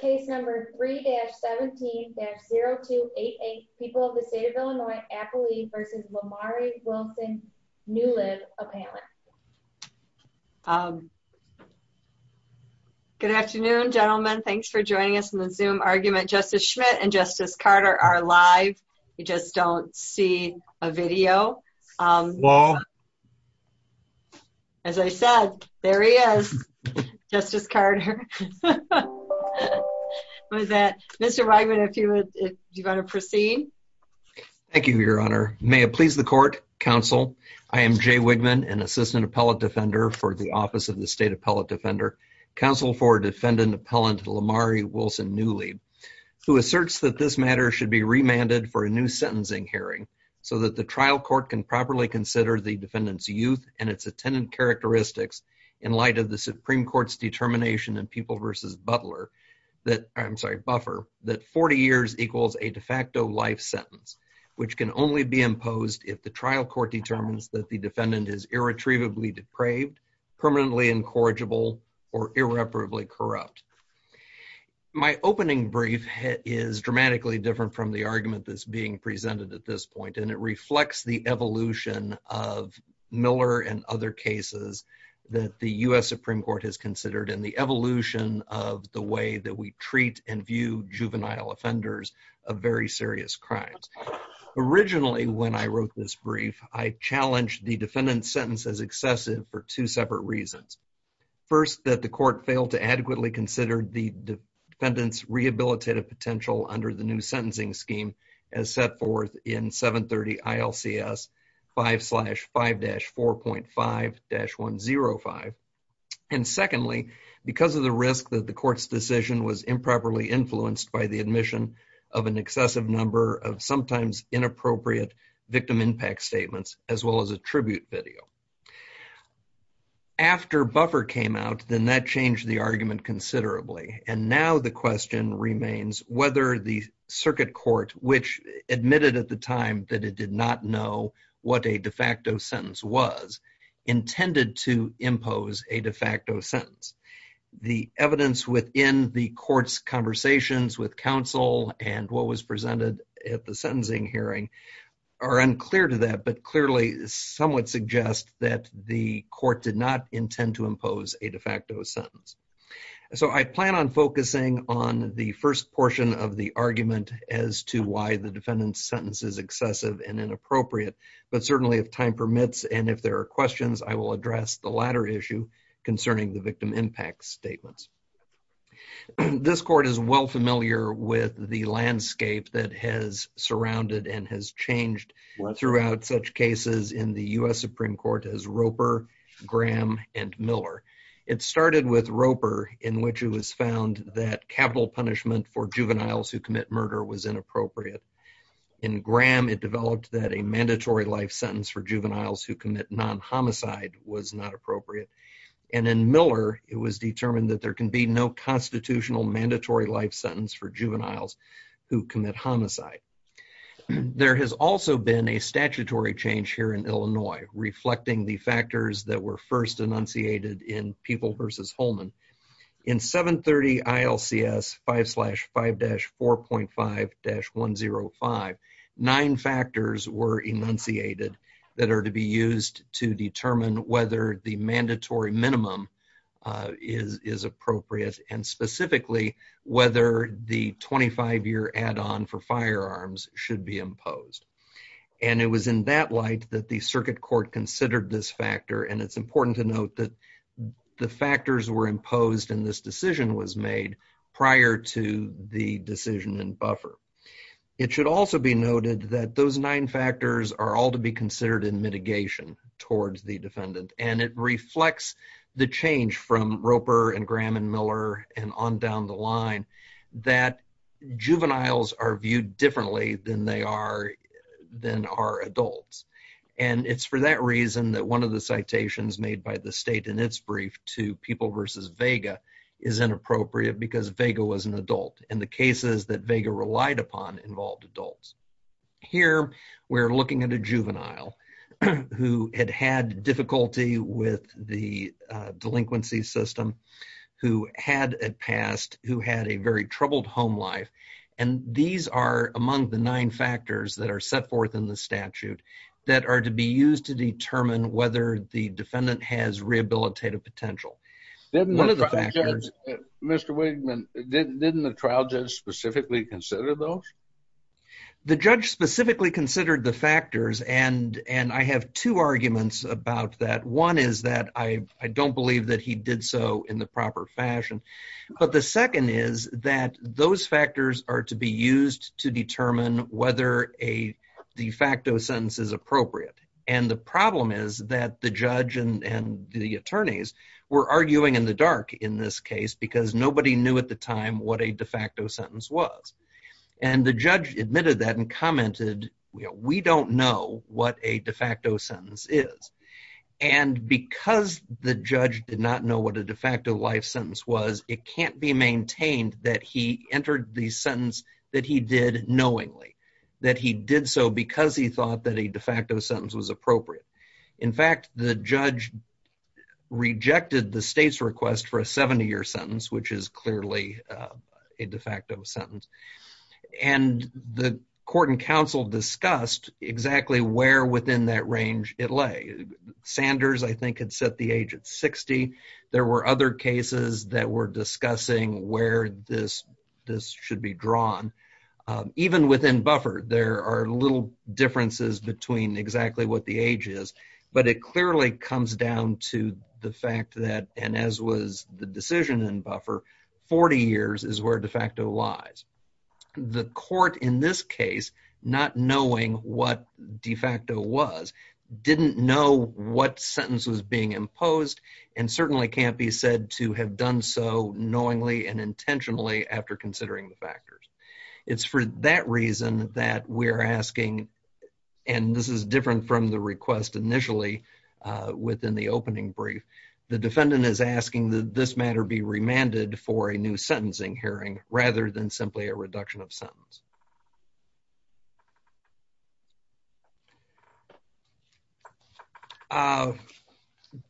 Case number 3-17-0288, People of the State of Illinois, Appalachia v. Lamarie Wilson-Neuelib, Appalachia. Good afternoon, gentlemen. Thanks for joining us in the Zoom argument. Justice Schmitt and Justice Carter are live. You just don't see a video. Hello. As I said, there he is, Justice Carter. Mr. Wigman, if you want to proceed. Thank you, Your Honor. May it please the Court, Counsel, I am Jay Wigman, an Assistant Appellate Defender for the Office of the State Appellate Defender, Counsel for Defendant Appellant Lamarie Wilson-Neuelib, who asserts that this matter should be remanded for a new sentencing hearing so that the trial court can properly consider the defendant's youth and its attendant characteristics in light of the Supreme Court's determination in People v. Butler, I'm sorry, Buffer, that 40 years equals a de facto life sentence, which can only be imposed if the trial court determines that the defendant is irretrievably depraved, permanently incorrigible, or irreparably corrupt. My opening brief is dramatically different from the argument that's being presented at this point, and it reflects the evolution of Miller and other cases that the U.S. Supreme Court has considered and the evolution of the way that we treat and view juvenile offenders of very serious crimes. Originally, when I wrote this brief, I challenged the defendant's sentence as excessive for two separate reasons. First, that the court failed to adequately consider the defendant's rehabilitative potential under the new sentencing scheme as set forth in 730 ILCS 5-5-4.5-105. And secondly, because of the risk that the court's decision was improperly influenced by the admission of an excessive number of sometimes inappropriate victim impact statements, as well as a tribute video. After Buffer came out, then that changed the argument considerably. And now the question remains whether the circuit court, which admitted at the time that it did not know what a de facto sentence was, intended to impose a de facto sentence. The evidence within the court's conversations with counsel and what was presented at the sentencing hearing are unclear to that, but clearly somewhat suggest that the court did not intend to impose a de facto sentence. So I plan on focusing on the first portion of the argument as to why the defendant's sentence is excessive and inappropriate. But certainly, if time permits, and if there are questions, I will address the latter issue concerning the victim impact statements. This court is well familiar with the landscape that has surrounded and has changed throughout such cases in the U.S. Supreme Court as Roper, Graham, and Miller. It started with Roper, in which it was found that capital punishment for juveniles who commit murder was inappropriate. In Graham, it developed that a mandatory life sentence for juveniles who commit non-homicide was not appropriate. And in Miller, it was determined that there can be no constitutional mandatory life sentence for juveniles who commit homicide. There has also been a statutory change here in Illinois, reflecting the factors that were first enunciated in People v. Holman. In 730 ILCS 5-5-4.5-105, nine factors were enunciated that are to be used to determine whether the mandatory minimum is appropriate, and specifically, whether the 25-year add-on for firearms should be imposed. And it was in that light that the circuit court considered this factor, and it's important to note that the factors were imposed in this decision was made prior to the decision in buffer. It should also be noted that those nine factors are all to be considered in mitigation towards the defendant. And it reflects the change from Roper and Graham and Miller and on down the line that juveniles are viewed differently than they are than are adults. And it's for that reason that one of the citations made by the state in its brief to People v. Vega is inappropriate because Vega was an adult. And the cases that Vega relied upon involved adults. Here we're looking at a juvenile who had had difficulty with the delinquency system, who had a past, who had a very troubled home life. And these are among the nine factors that are set forth in the statute that are to be used to determine whether the defendant has rehabilitative potential. Mr. Wigman, didn't the trial judge specifically consider those? The judge specifically considered the factors, and I have two arguments about that. One is that I don't believe that he did so in the proper fashion. But the second is that those factors are to be used to determine whether a de facto sentence is appropriate. And the problem is that the judge and the attorneys were arguing in the dark in this case because nobody knew at the time what a de facto sentence was. And the judge admitted that and commented, we don't know what a de facto sentence is. And because the judge did not know what a de facto life sentence was, it can't be maintained that he entered the sentence that he did knowingly. That he did so because he thought that a de facto sentence was appropriate. In fact, the judge rejected the state's request for a 70-year sentence, which is clearly a de facto sentence. And the court and counsel discussed exactly where within that range it lay. Sanders, I think, had set the age at 60. There were other cases that were discussing where this should be drawn. Even within Buffer, there are little differences between exactly what the age is. But it clearly comes down to the fact that, and as was the decision in Buffer, 40 years is where de facto lies. The court in this case, not knowing what de facto was, didn't know what sentence was being imposed. And certainly can't be said to have done so knowingly and intentionally after considering the factors. It's for that reason that we're asking, and this is different from the request initially within the opening brief. The defendant is asking that this matter be remanded for a new sentencing hearing rather than simply a reduction of sentence.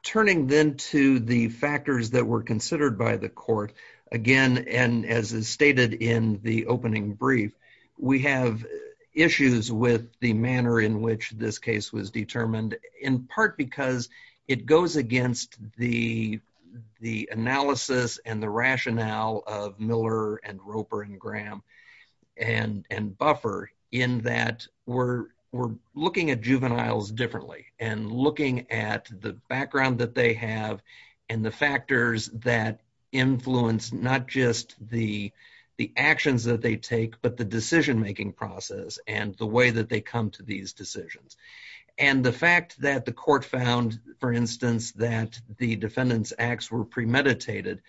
Turning then to the factors that were considered by the court. Again, and as is stated in the opening brief, we have issues with the manner in which this case was determined. In part because it goes against the analysis and the rationale of Miller and Roper and Graham. And Buffer in that we're looking at juveniles differently. And looking at the background that they have and the factors that influence not just the actions that they take. But the decision-making process and the way that they come to these decisions. And the fact that the court found, for instance, that the defendant's acts were premeditated.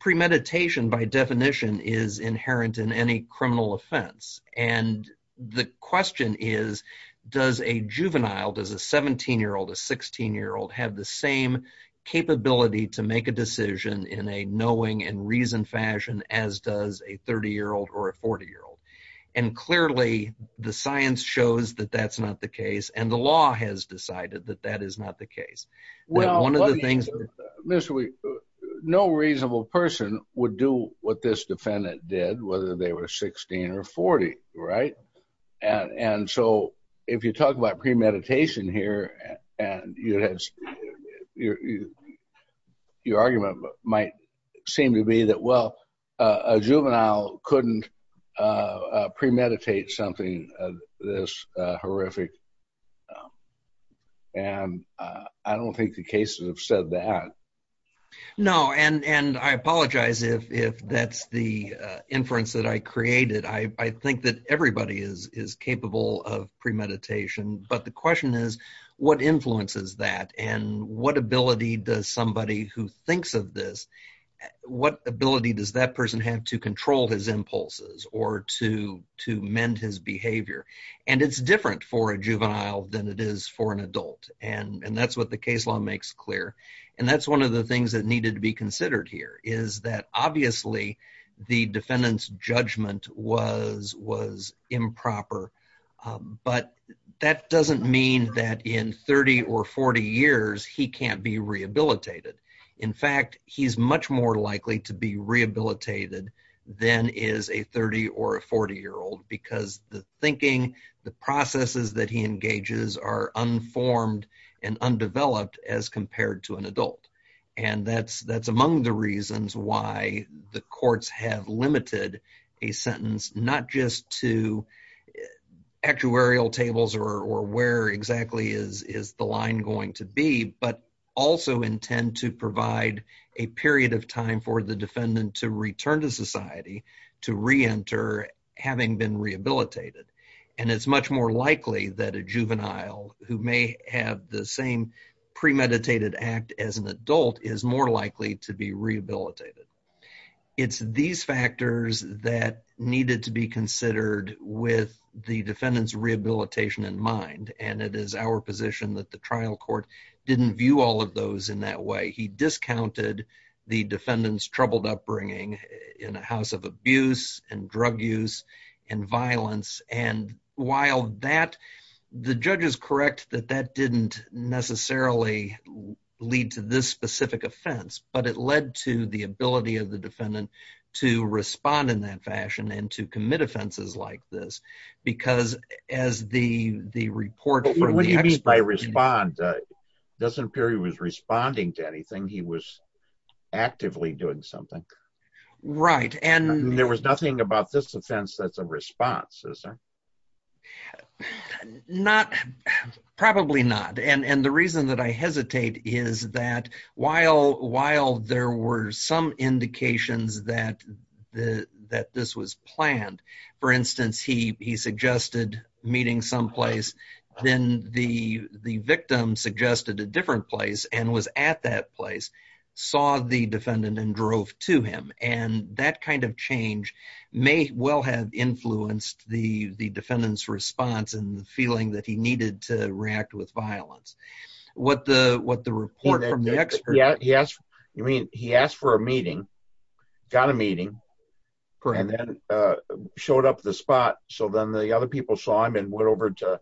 Premeditation by definition is inherent in any criminal offense. And the question is, does a juvenile, does a 17-year-old, a 16-year-old have the same capability to make a decision in a knowing and reasoned fashion as does a 30-year-old or a 40-year-old? And clearly the science shows that that's not the case. And the law has decided that that is not the case. No reasonable person would do what this defendant did, whether they were 16 or 40, right? And so if you talk about premeditation here, your argument might seem to be that, well, a juvenile couldn't premeditate something this horrific. And I don't think the cases have said that. No, and I apologize if that's the inference that I created. I think that everybody is capable of premeditation. But the question is, what influences that? And what ability does somebody who thinks of this, what ability does that person have to control his impulses or to mend his behavior? And it's different for a juvenile than it is for an adult. And that's what the case law makes clear. And that's one of the things that needed to be considered here is that obviously the defendant's judgment was improper. But that doesn't mean that in 30 or 40 years he can't be rehabilitated. In fact, he's much more likely to be rehabilitated than is a 30 or a 40-year-old because the thinking, the processes that he engages are unformed and undeveloped as compared to an adult. And that's among the reasons why the courts have limited a sentence not just to actuarial tables or where exactly is the line going to be, but also intend to provide a period of time for the defendant to return to society to reenter having been rehabilitated. And it's much more likely that a juvenile who may have the same premeditated act as an adult is more likely to be rehabilitated. It's these factors that needed to be considered with the defendant's rehabilitation in mind. And it is our position that the trial court didn't view all of those in that way. He discounted the defendant's troubled upbringing in a house of abuse and drug use and violence. And while the judge is correct that that didn't necessarily lead to this specific offense, but it led to the ability of the defendant to respond in that fashion and to commit offenses like this. It doesn't appear he was responding to anything. He was actively doing something. There was nothing about this offense that's a response, is there? Probably not. And the reason that I hesitate is that while there were some indications that this was planned, for instance, he suggested meeting someplace, then the victim suggested a different place and was at that place, saw the defendant and drove to him. And that kind of change may well have influenced the defendant's response and the feeling that he needed to react with violence. He asked for a meeting, got a meeting, and then showed up at the spot. So then the other people saw him and went over to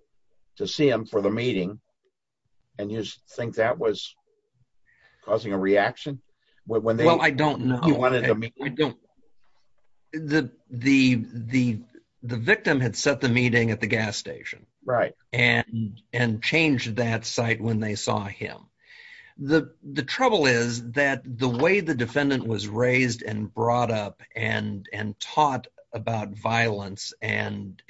see him for the meeting. And you think that was causing a reaction? Well, I don't know. The victim had set the meeting at the gas station and changed that site when they saw him. The trouble is that the way the defendant was raised and brought up and taught about violence, and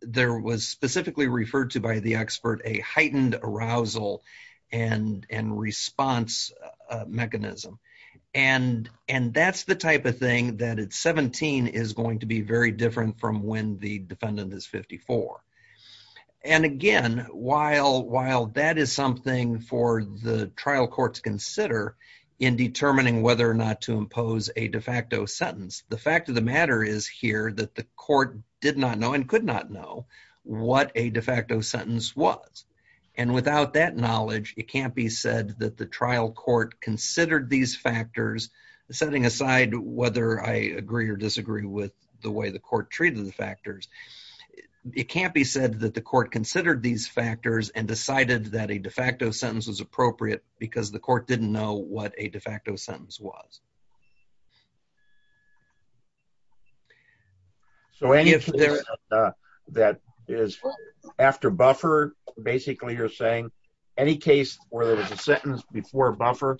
there was specifically referred to by the expert a heightened arousal and response mechanism. And that's the type of thing that at 17 is going to be very different from when the defendant is 54. And again, while that is something for the trial courts to consider in determining whether or not to impose a de facto sentence, the fact of the matter is here that the court did not know and could not know what a de facto sentence was. And without that knowledge, it can't be said that the trial court considered these factors, setting aside whether I agree or disagree with the way the court treated the factors. It can't be said that the court considered these factors and decided that a de facto sentence was appropriate because the court didn't know what a de facto sentence was. So any of that is after buffer. Basically, you're saying any case where there was a sentence before buffer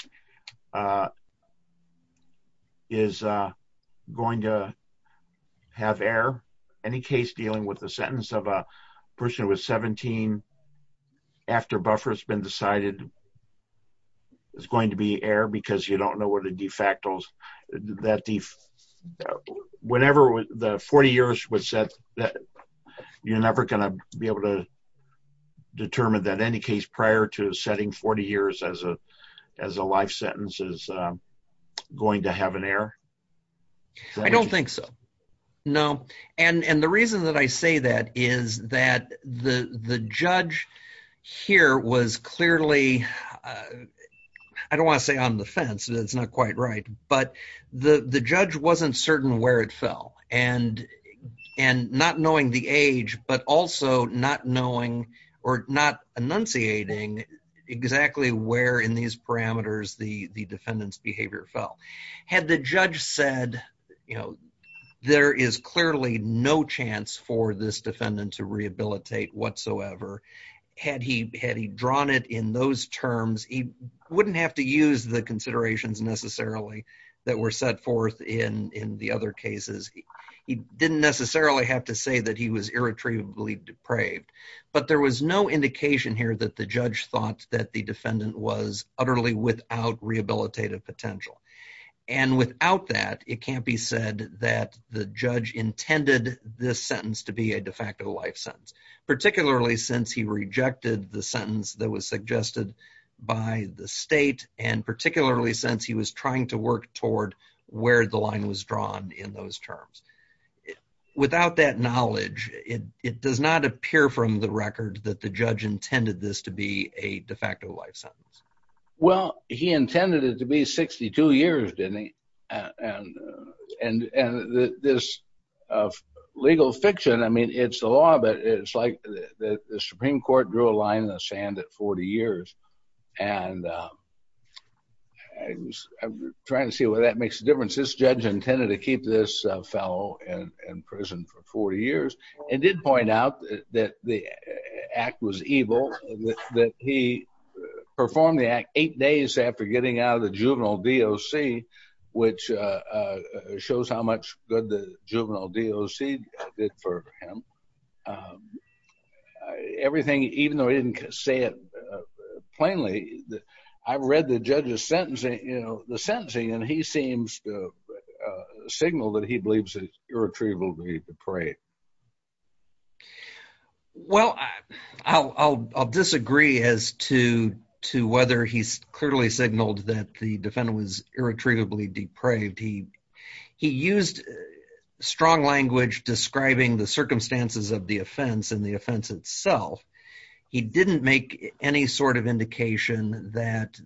is going to have air. Any case dealing with the sentence of a person who was 17 after buffer has been decided is going to be air because you don't know what a de facto sentence is. Whenever the 40 years was set, you're never going to be able to determine that any case prior to setting 40 years as a life sentence is going to have an air. I don't think so. No. And the reason that I say that is that the judge here was clearly, I don't want to say on the fence, it's not quite right, but the judge wasn't certain where it fell. And not knowing the age, but also not knowing or not enunciating exactly where in these parameters the defendant's behavior fell. Had the judge said, you know, there is clearly no chance for this defendant to rehabilitate whatsoever, had he drawn it in those terms, he wouldn't have to use the considerations necessarily that were set forth in the other cases. He didn't necessarily have to say that he was irretrievably depraved. But there was no indication here that the judge thought that the defendant was utterly without rehabilitative potential. And without that, it can't be said that the judge intended this sentence to be a de facto life sentence, particularly since he rejected the sentence that was suggested by the state and particularly since he was trying to work toward where the line was drawn in those terms. Without that knowledge, it does not appear from the record that the judge intended this to be a de facto life sentence. Well, he intended it to be 62 years, didn't he? And this legal fiction, I mean, it's the law, but it's like the Supreme Court drew a line in the sand at 40 years. And I'm trying to see whether that makes a difference. This judge intended to keep this fellow in prison for 40 years and did point out that the act was evil, that he performed the act eight days after getting out of the juvenile DOC, which shows how much good the juvenile DOC did for him. Everything, even though he didn't say it plainly, I've read the judge's sentencing, the sentencing, and he seems to signal that he believes it's irretrievably depraved. Well, I'll disagree as to whether he's clearly signaled that the defendant was irretrievably depraved. He used strong language describing the circumstances of the offense and the offense itself. He didn't make any sort of indication that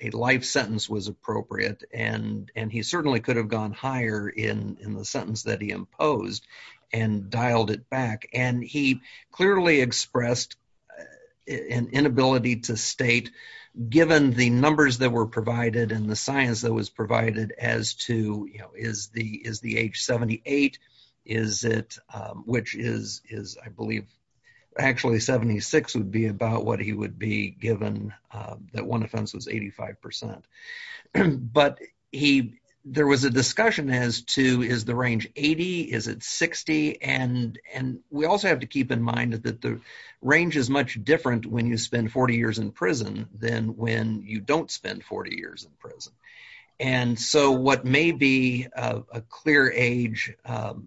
a life sentence was appropriate, and he certainly could have gone higher in the sentence that he imposed and dialed it back. And he clearly expressed an inability to state, given the numbers that were provided and the science that was provided, as to, you know, is the age 78, which is, I believe, actually 76 would be about what he would be given that one offense was 85%. But there was a discussion as to, is the range 80? Is it 60? And we also have to keep in mind that the range is much different when you spend 40 years in prison than when you don't spend 40 years in prison. And so what may be a clear age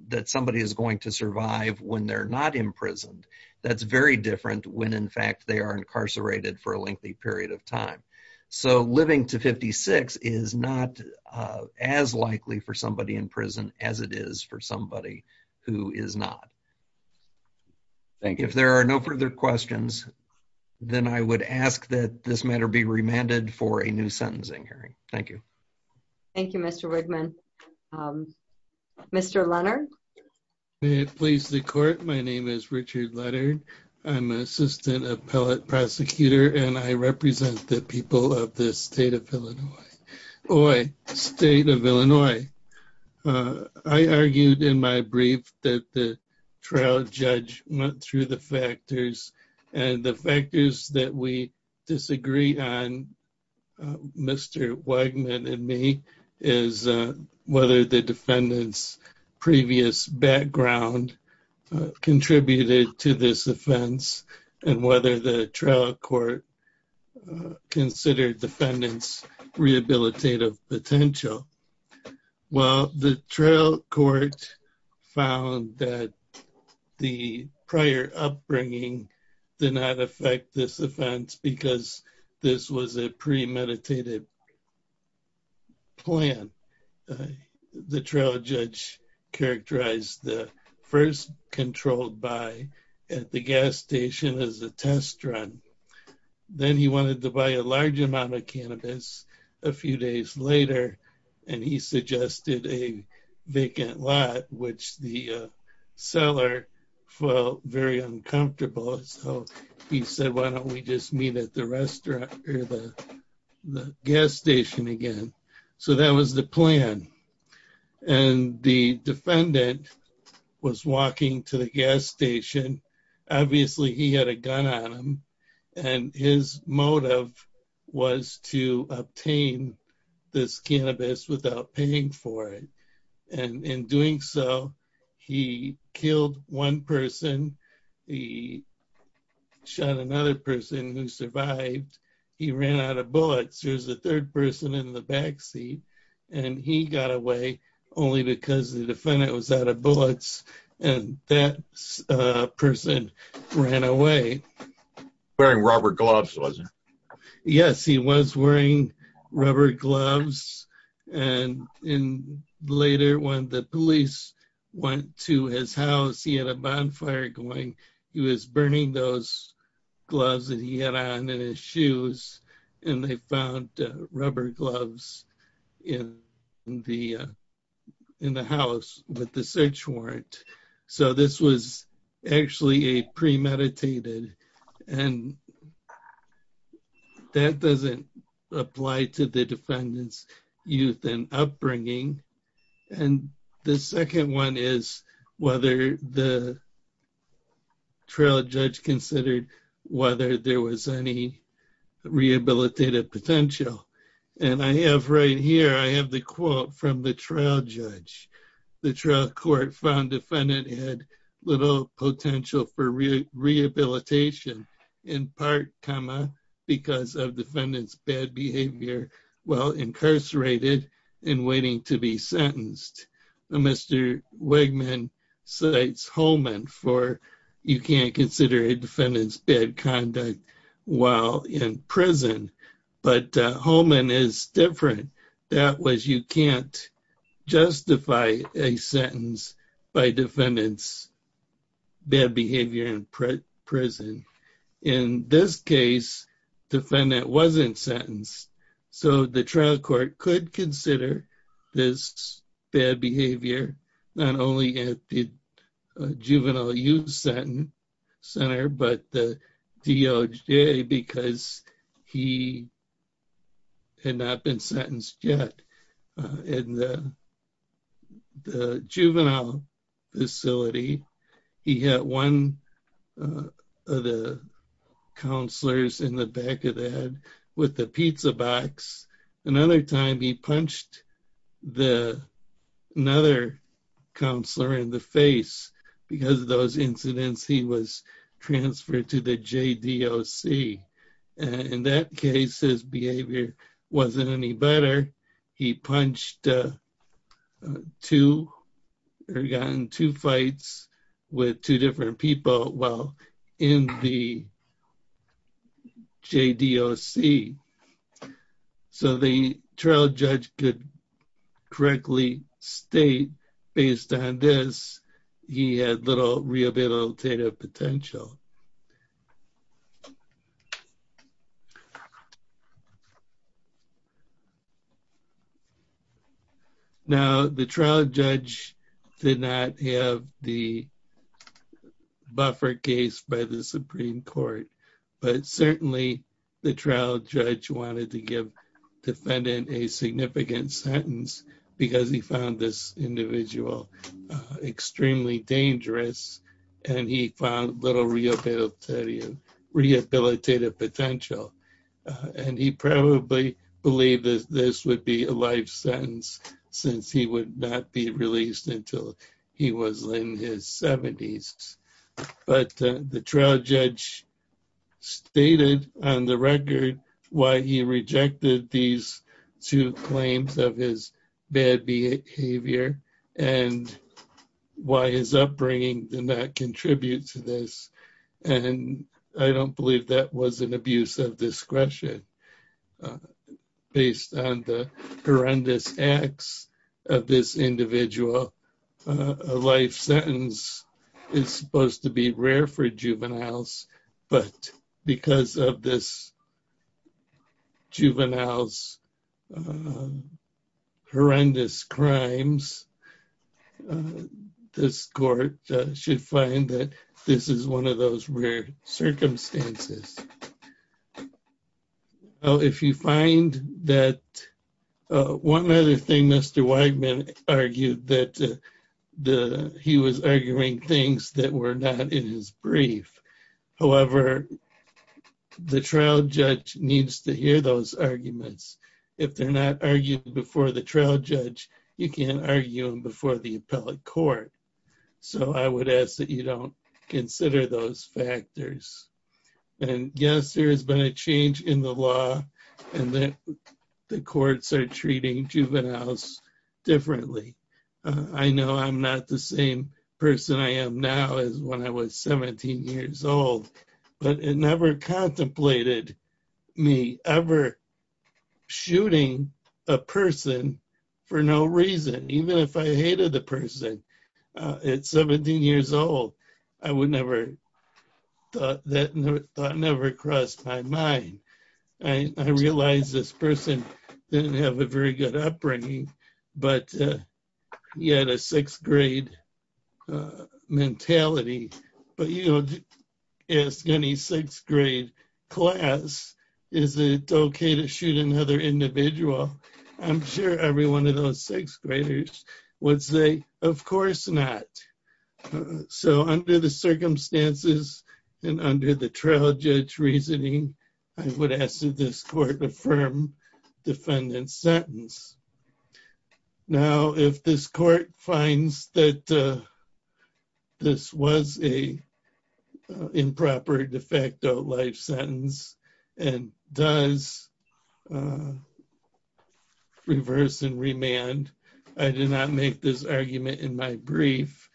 that somebody is going to survive when they're not imprisoned, that's very different when, in fact, they are incarcerated for a lengthy period of time. So living to 56 is not as likely for somebody in prison as it is for somebody who is not. If there are no further questions, then I would ask that this matter be remanded for a new sentencing hearing. Thank you. Thank you, Mr. Wigman. Mr. Leonard? May it please the court. My name is Richard Leonard. I'm an assistant appellate prosecutor, and I represent the people of the state of Illinois. State of Illinois. I argued in my brief that the trial judge went through the factors, and the factors that we disagree on, Mr. Wigman and me, is whether the defendant's previous background contributed to this offense, and whether the trial court considered defendant's rehabilitative potential. Well, the trial court found that the prior upbringing did not affect this offense because this was a premeditated plan. The trial judge characterized the first controlled buy at the gas station as a test run. Then he wanted to buy a large amount of cannabis a few days later, and he suggested a vacant lot, which the seller felt very uncomfortable. He said, why don't we just meet at the restaurant or the gas station again? So that was the plan, and the defendant was walking to the gas station. Obviously, he had a gun on him, and his motive was to obtain this cannabis without paying for it. In doing so, he killed one person, he shot another person who survived, he ran out of bullets. There's a third person in the back seat, and he got away only because the defendant was out of bullets, and that person ran away. Wearing rubber gloves, was he? Yes, he was wearing rubber gloves. Later, when the police went to his house, he had a bonfire going. He was burning those gloves that he had on in his shoes, and they found rubber gloves in the house with the search warrant. This was actually premeditated, and that doesn't apply to the defendant's youth and upbringing. The second one is whether the trial judge considered whether there was any rehabilitative potential. Right here, I have the quote from the trial judge. The trial court found the defendant had little potential for rehabilitation, in part, because of the defendant's bad behavior while incarcerated and waiting to be sentenced. Mr. Wegman cites Holman for, you can't consider a defendant's bad conduct while in prison. But Holman is different. That was, you can't justify a sentence by defendant's bad behavior in prison. In this case, the defendant wasn't sentenced, so the trial court could consider this bad behavior, not only at the juvenile youth center, but the DOJ, because he had not been sentenced yet. In the juvenile facility, he had one of the counselors in the back of the head with the pizza box. Another time, he punched another counselor in the face. Because of those incidents, he was transferred to the JDOC. In that case, his behavior wasn't any better. He punched two, or got in two fights with two different people while in the JDOC. So the trial judge could correctly state, based on this, he had little rehabilitative potential. Now, the trial judge did not have the buffer case by the Supreme Court. But certainly, the trial judge wanted to give the defendant a significant sentence, because he found this individual extremely dangerous, and he found little rehabilitative potential. And he probably believed that this would be a life sentence, since he would not be released until he was in his 70s. But the trial judge stated on the record why he rejected these two claims of his bad behavior, and why his upbringing did not contribute to this. And I don't believe that was an abuse of discretion. Based on the horrendous acts of this individual, a life sentence is supposed to be rare for juveniles. But because of this juvenile's horrendous crimes, this court should find that this is one of those rare circumstances. Now, if you find that one other thing Mr. Wegman argued, that he was arguing things that were not in his brief. However, the trial judge needs to hear those arguments. If they're not argued before the trial judge, you can't argue them before the appellate court. So I would ask that you don't consider those factors. And yes, there has been a change in the law, and that the courts are treating juveniles differently. I know I'm not the same person I am now as when I was 17 years old, but it never contemplated me ever shooting a person for no reason, even if I hated the person at 17 years old. That thought never crossed my mind. I realized this person didn't have a very good upbringing, but he had a sixth grade mentality. But you don't ask any sixth grade class, is it okay to shoot another individual? I'm sure every one of those sixth graders would say, of course not. So under the circumstances and under the trial judge reasoning, I would ask that this court affirm defendant's sentence. Now, if this court finds that this was a improper de facto life sentence and does reverse and remand, I did not make this argument in my brief,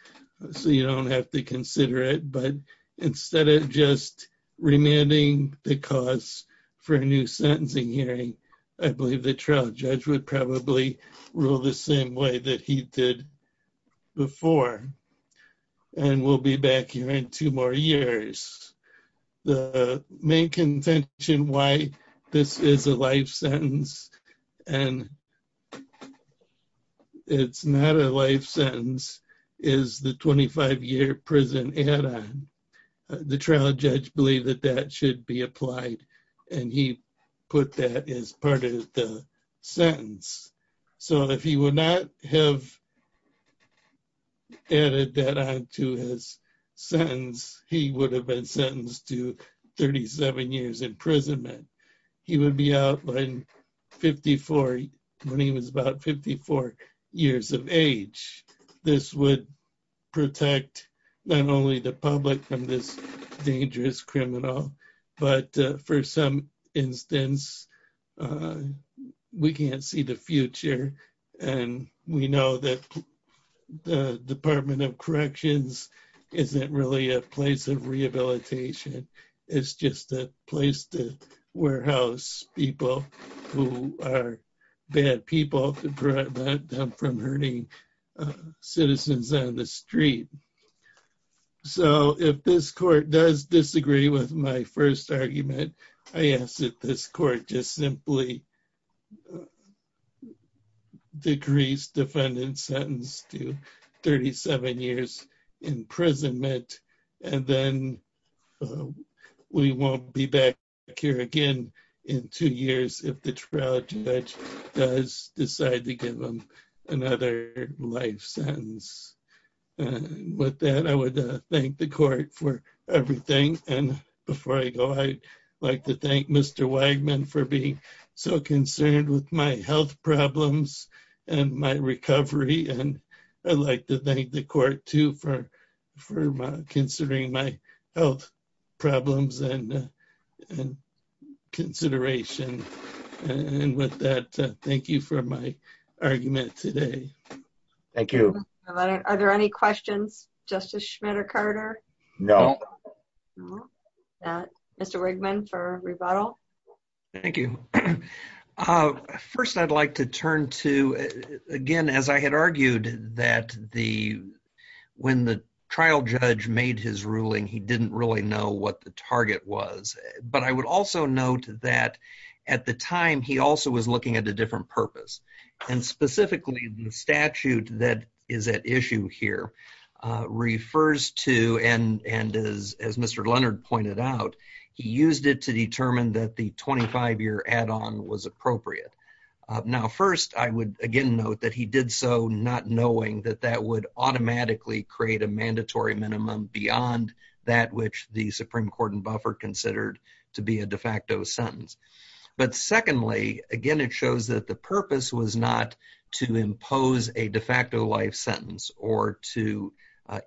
so you don't have to consider it. But instead of just remanding the cause for a new sentencing hearing, I believe the trial judge would probably rule the same way that he did before. And we'll be back here in two more years. The main contention why this is a life sentence and it's not a life sentence is the 25-year prison add-on. The trial judge believed that that should be applied, and he put that as part of the sentence. So if he would not have added that on to his sentence, he would have been sentenced to 37 years imprisonment. He would be out when he was about 54 years of age. This would protect not only the public from this dangerous criminal, but for some instance, we can't see the future. And we know that the Department of Corrections isn't really a place of rehabilitation. It's just a place to warehouse people who are bad people to prevent them from hurting citizens on the street. So if this court does disagree with my first argument, I ask that this court just simply decrease defendant's sentence to 37 years imprisonment. And then we won't be back here again in two years if the trial judge does decide to give him another life sentence. With that, I would thank the court for everything. And before I go, I'd like to thank Mr. Wagman for being so concerned with my health problems and my recovery. And I'd like to thank the court, too, for considering my health problems and consideration. And with that, thank you for my argument today. Thank you. Are there any questions, Justice Schmitt or Carter? No. Mr. Wagman for rebuttal. Thank you. First, I'd like to turn to, again, as I had argued that when the trial judge made his ruling, he didn't really know what the target was. But I would also note that at the time, he also was looking at a different purpose. And specifically, the statute that is at issue here refers to, and as Mr. Leonard pointed out, he used it to determine that the 25-year add-on was appropriate. Now, first, I would, again, note that he did so not knowing that that would automatically create a mandatory minimum beyond that which the Supreme Court and Buffer considered to be a de facto sentence. But secondly, again, it shows that the purpose was not to impose a de facto life sentence or to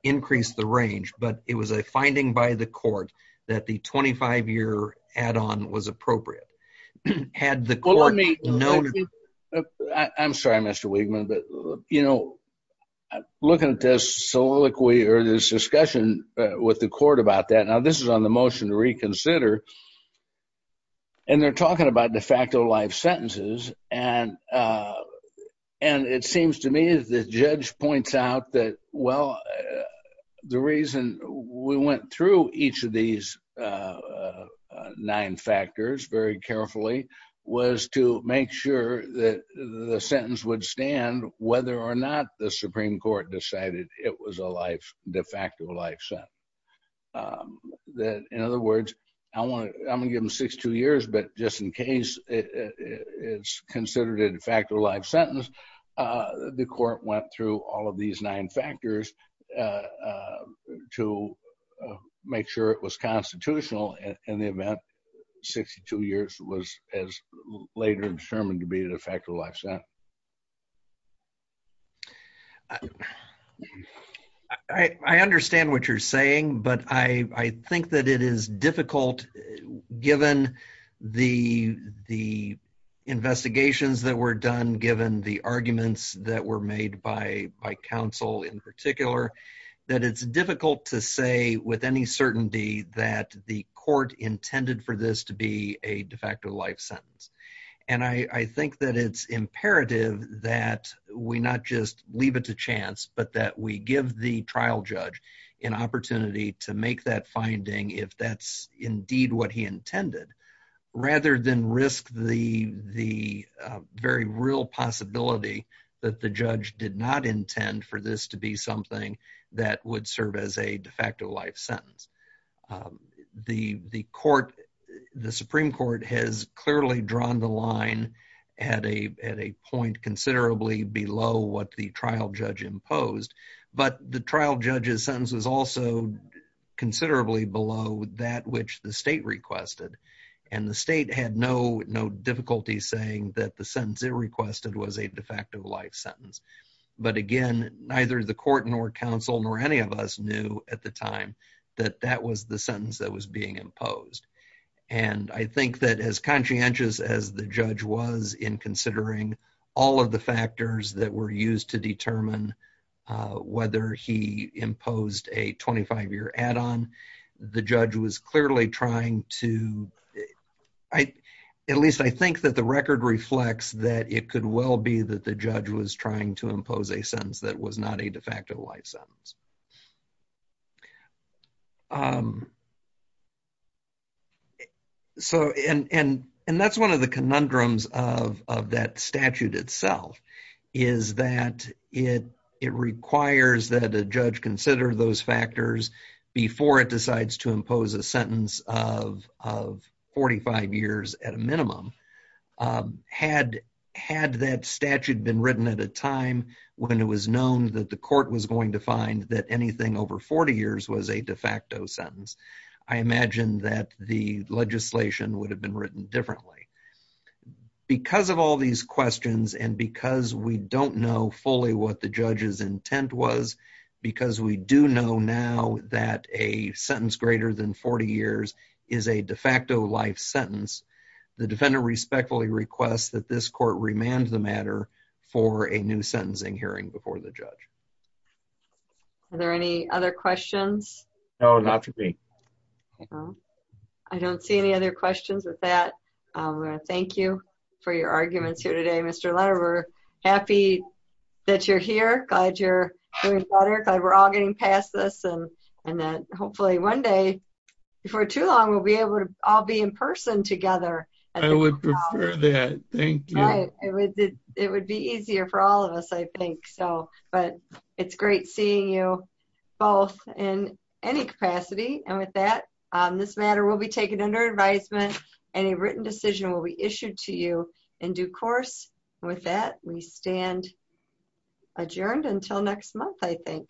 increase the range, but it was a finding by the court that the 25-year add-on was appropriate. Had the court known… I'm sorry, Mr. Wagman, but, you know, looking at this soliloquy or this discussion with the court about that, now, this is on the motion to reconsider. And they're talking about de facto life sentences. And it seems to me that the judge points out that, well, the reason we went through each of these nine factors very carefully was to make sure that the sentence would stand whether or not the Supreme Court decided it was a life, de facto life sentence. In other words, I'm going to give them 6-2 years, but just in case it's considered a de facto life sentence, the court went through all of these nine factors to make sure it was constitutional in the event 62 years was later determined to be a de facto life sentence. I understand what you're saying, but I think that it is difficult, given the investigations that were done, given the arguments that were made by counsel in particular, that it's difficult to say with any certainty that the court intended for this to be a de facto life sentence. And I think that it's imperative that we not just leave it to chance, but that we give the trial judge an opportunity to make that finding, if that's indeed what he intended, rather than risk the very real possibility that the judge did not intend for this to be something that would serve as a de facto life sentence. The Supreme Court has clearly drawn the line at a point considerably below what the trial judge imposed, but the trial judge's sentence was also considerably below that which the state requested, and the state had no difficulty saying that the sentence it requested was a de facto life sentence. But again, neither the court nor counsel nor any of us knew at the time that that was the sentence that was being imposed. And I think that as conscientious as the judge was in considering all of the factors that were used to determine whether he imposed a 25-year add-on, the judge was clearly trying to – at least I think that the record reflects that it could well be that the judge was trying to impose a sentence that was not a de facto life sentence. And that's one of the conundrums of that statute itself, is that it requires that a judge consider those factors before it decides to impose a sentence of 45 years at a minimum. Had that statute been written at a time when it was known that the court was going to find that anything over 40 years was a de facto sentence, I imagine that the legislation would have been written differently. Because of all these questions and because we don't know fully what the judge's intent was, because we do know now that a sentence greater than 40 years is a de facto life sentence, the defendant respectfully requests that this court remand the matter for a new sentencing hearing before the judge. Are there any other questions? No, not for me. I don't see any other questions with that. I want to thank you for your arguments here today, Mr. Letter. We're happy that you're here. Glad you're doing better. Glad we're all getting past this and that hopefully one day, before too long, we'll be able to all be in person together. I would prefer that. Thank you. It would be easier for all of us, I think. But it's great seeing you both in any capacity. And with that, this matter will be taken under advisement. Any written decision will be issued to you in due course. With that, we stand adjourned until next month, I think.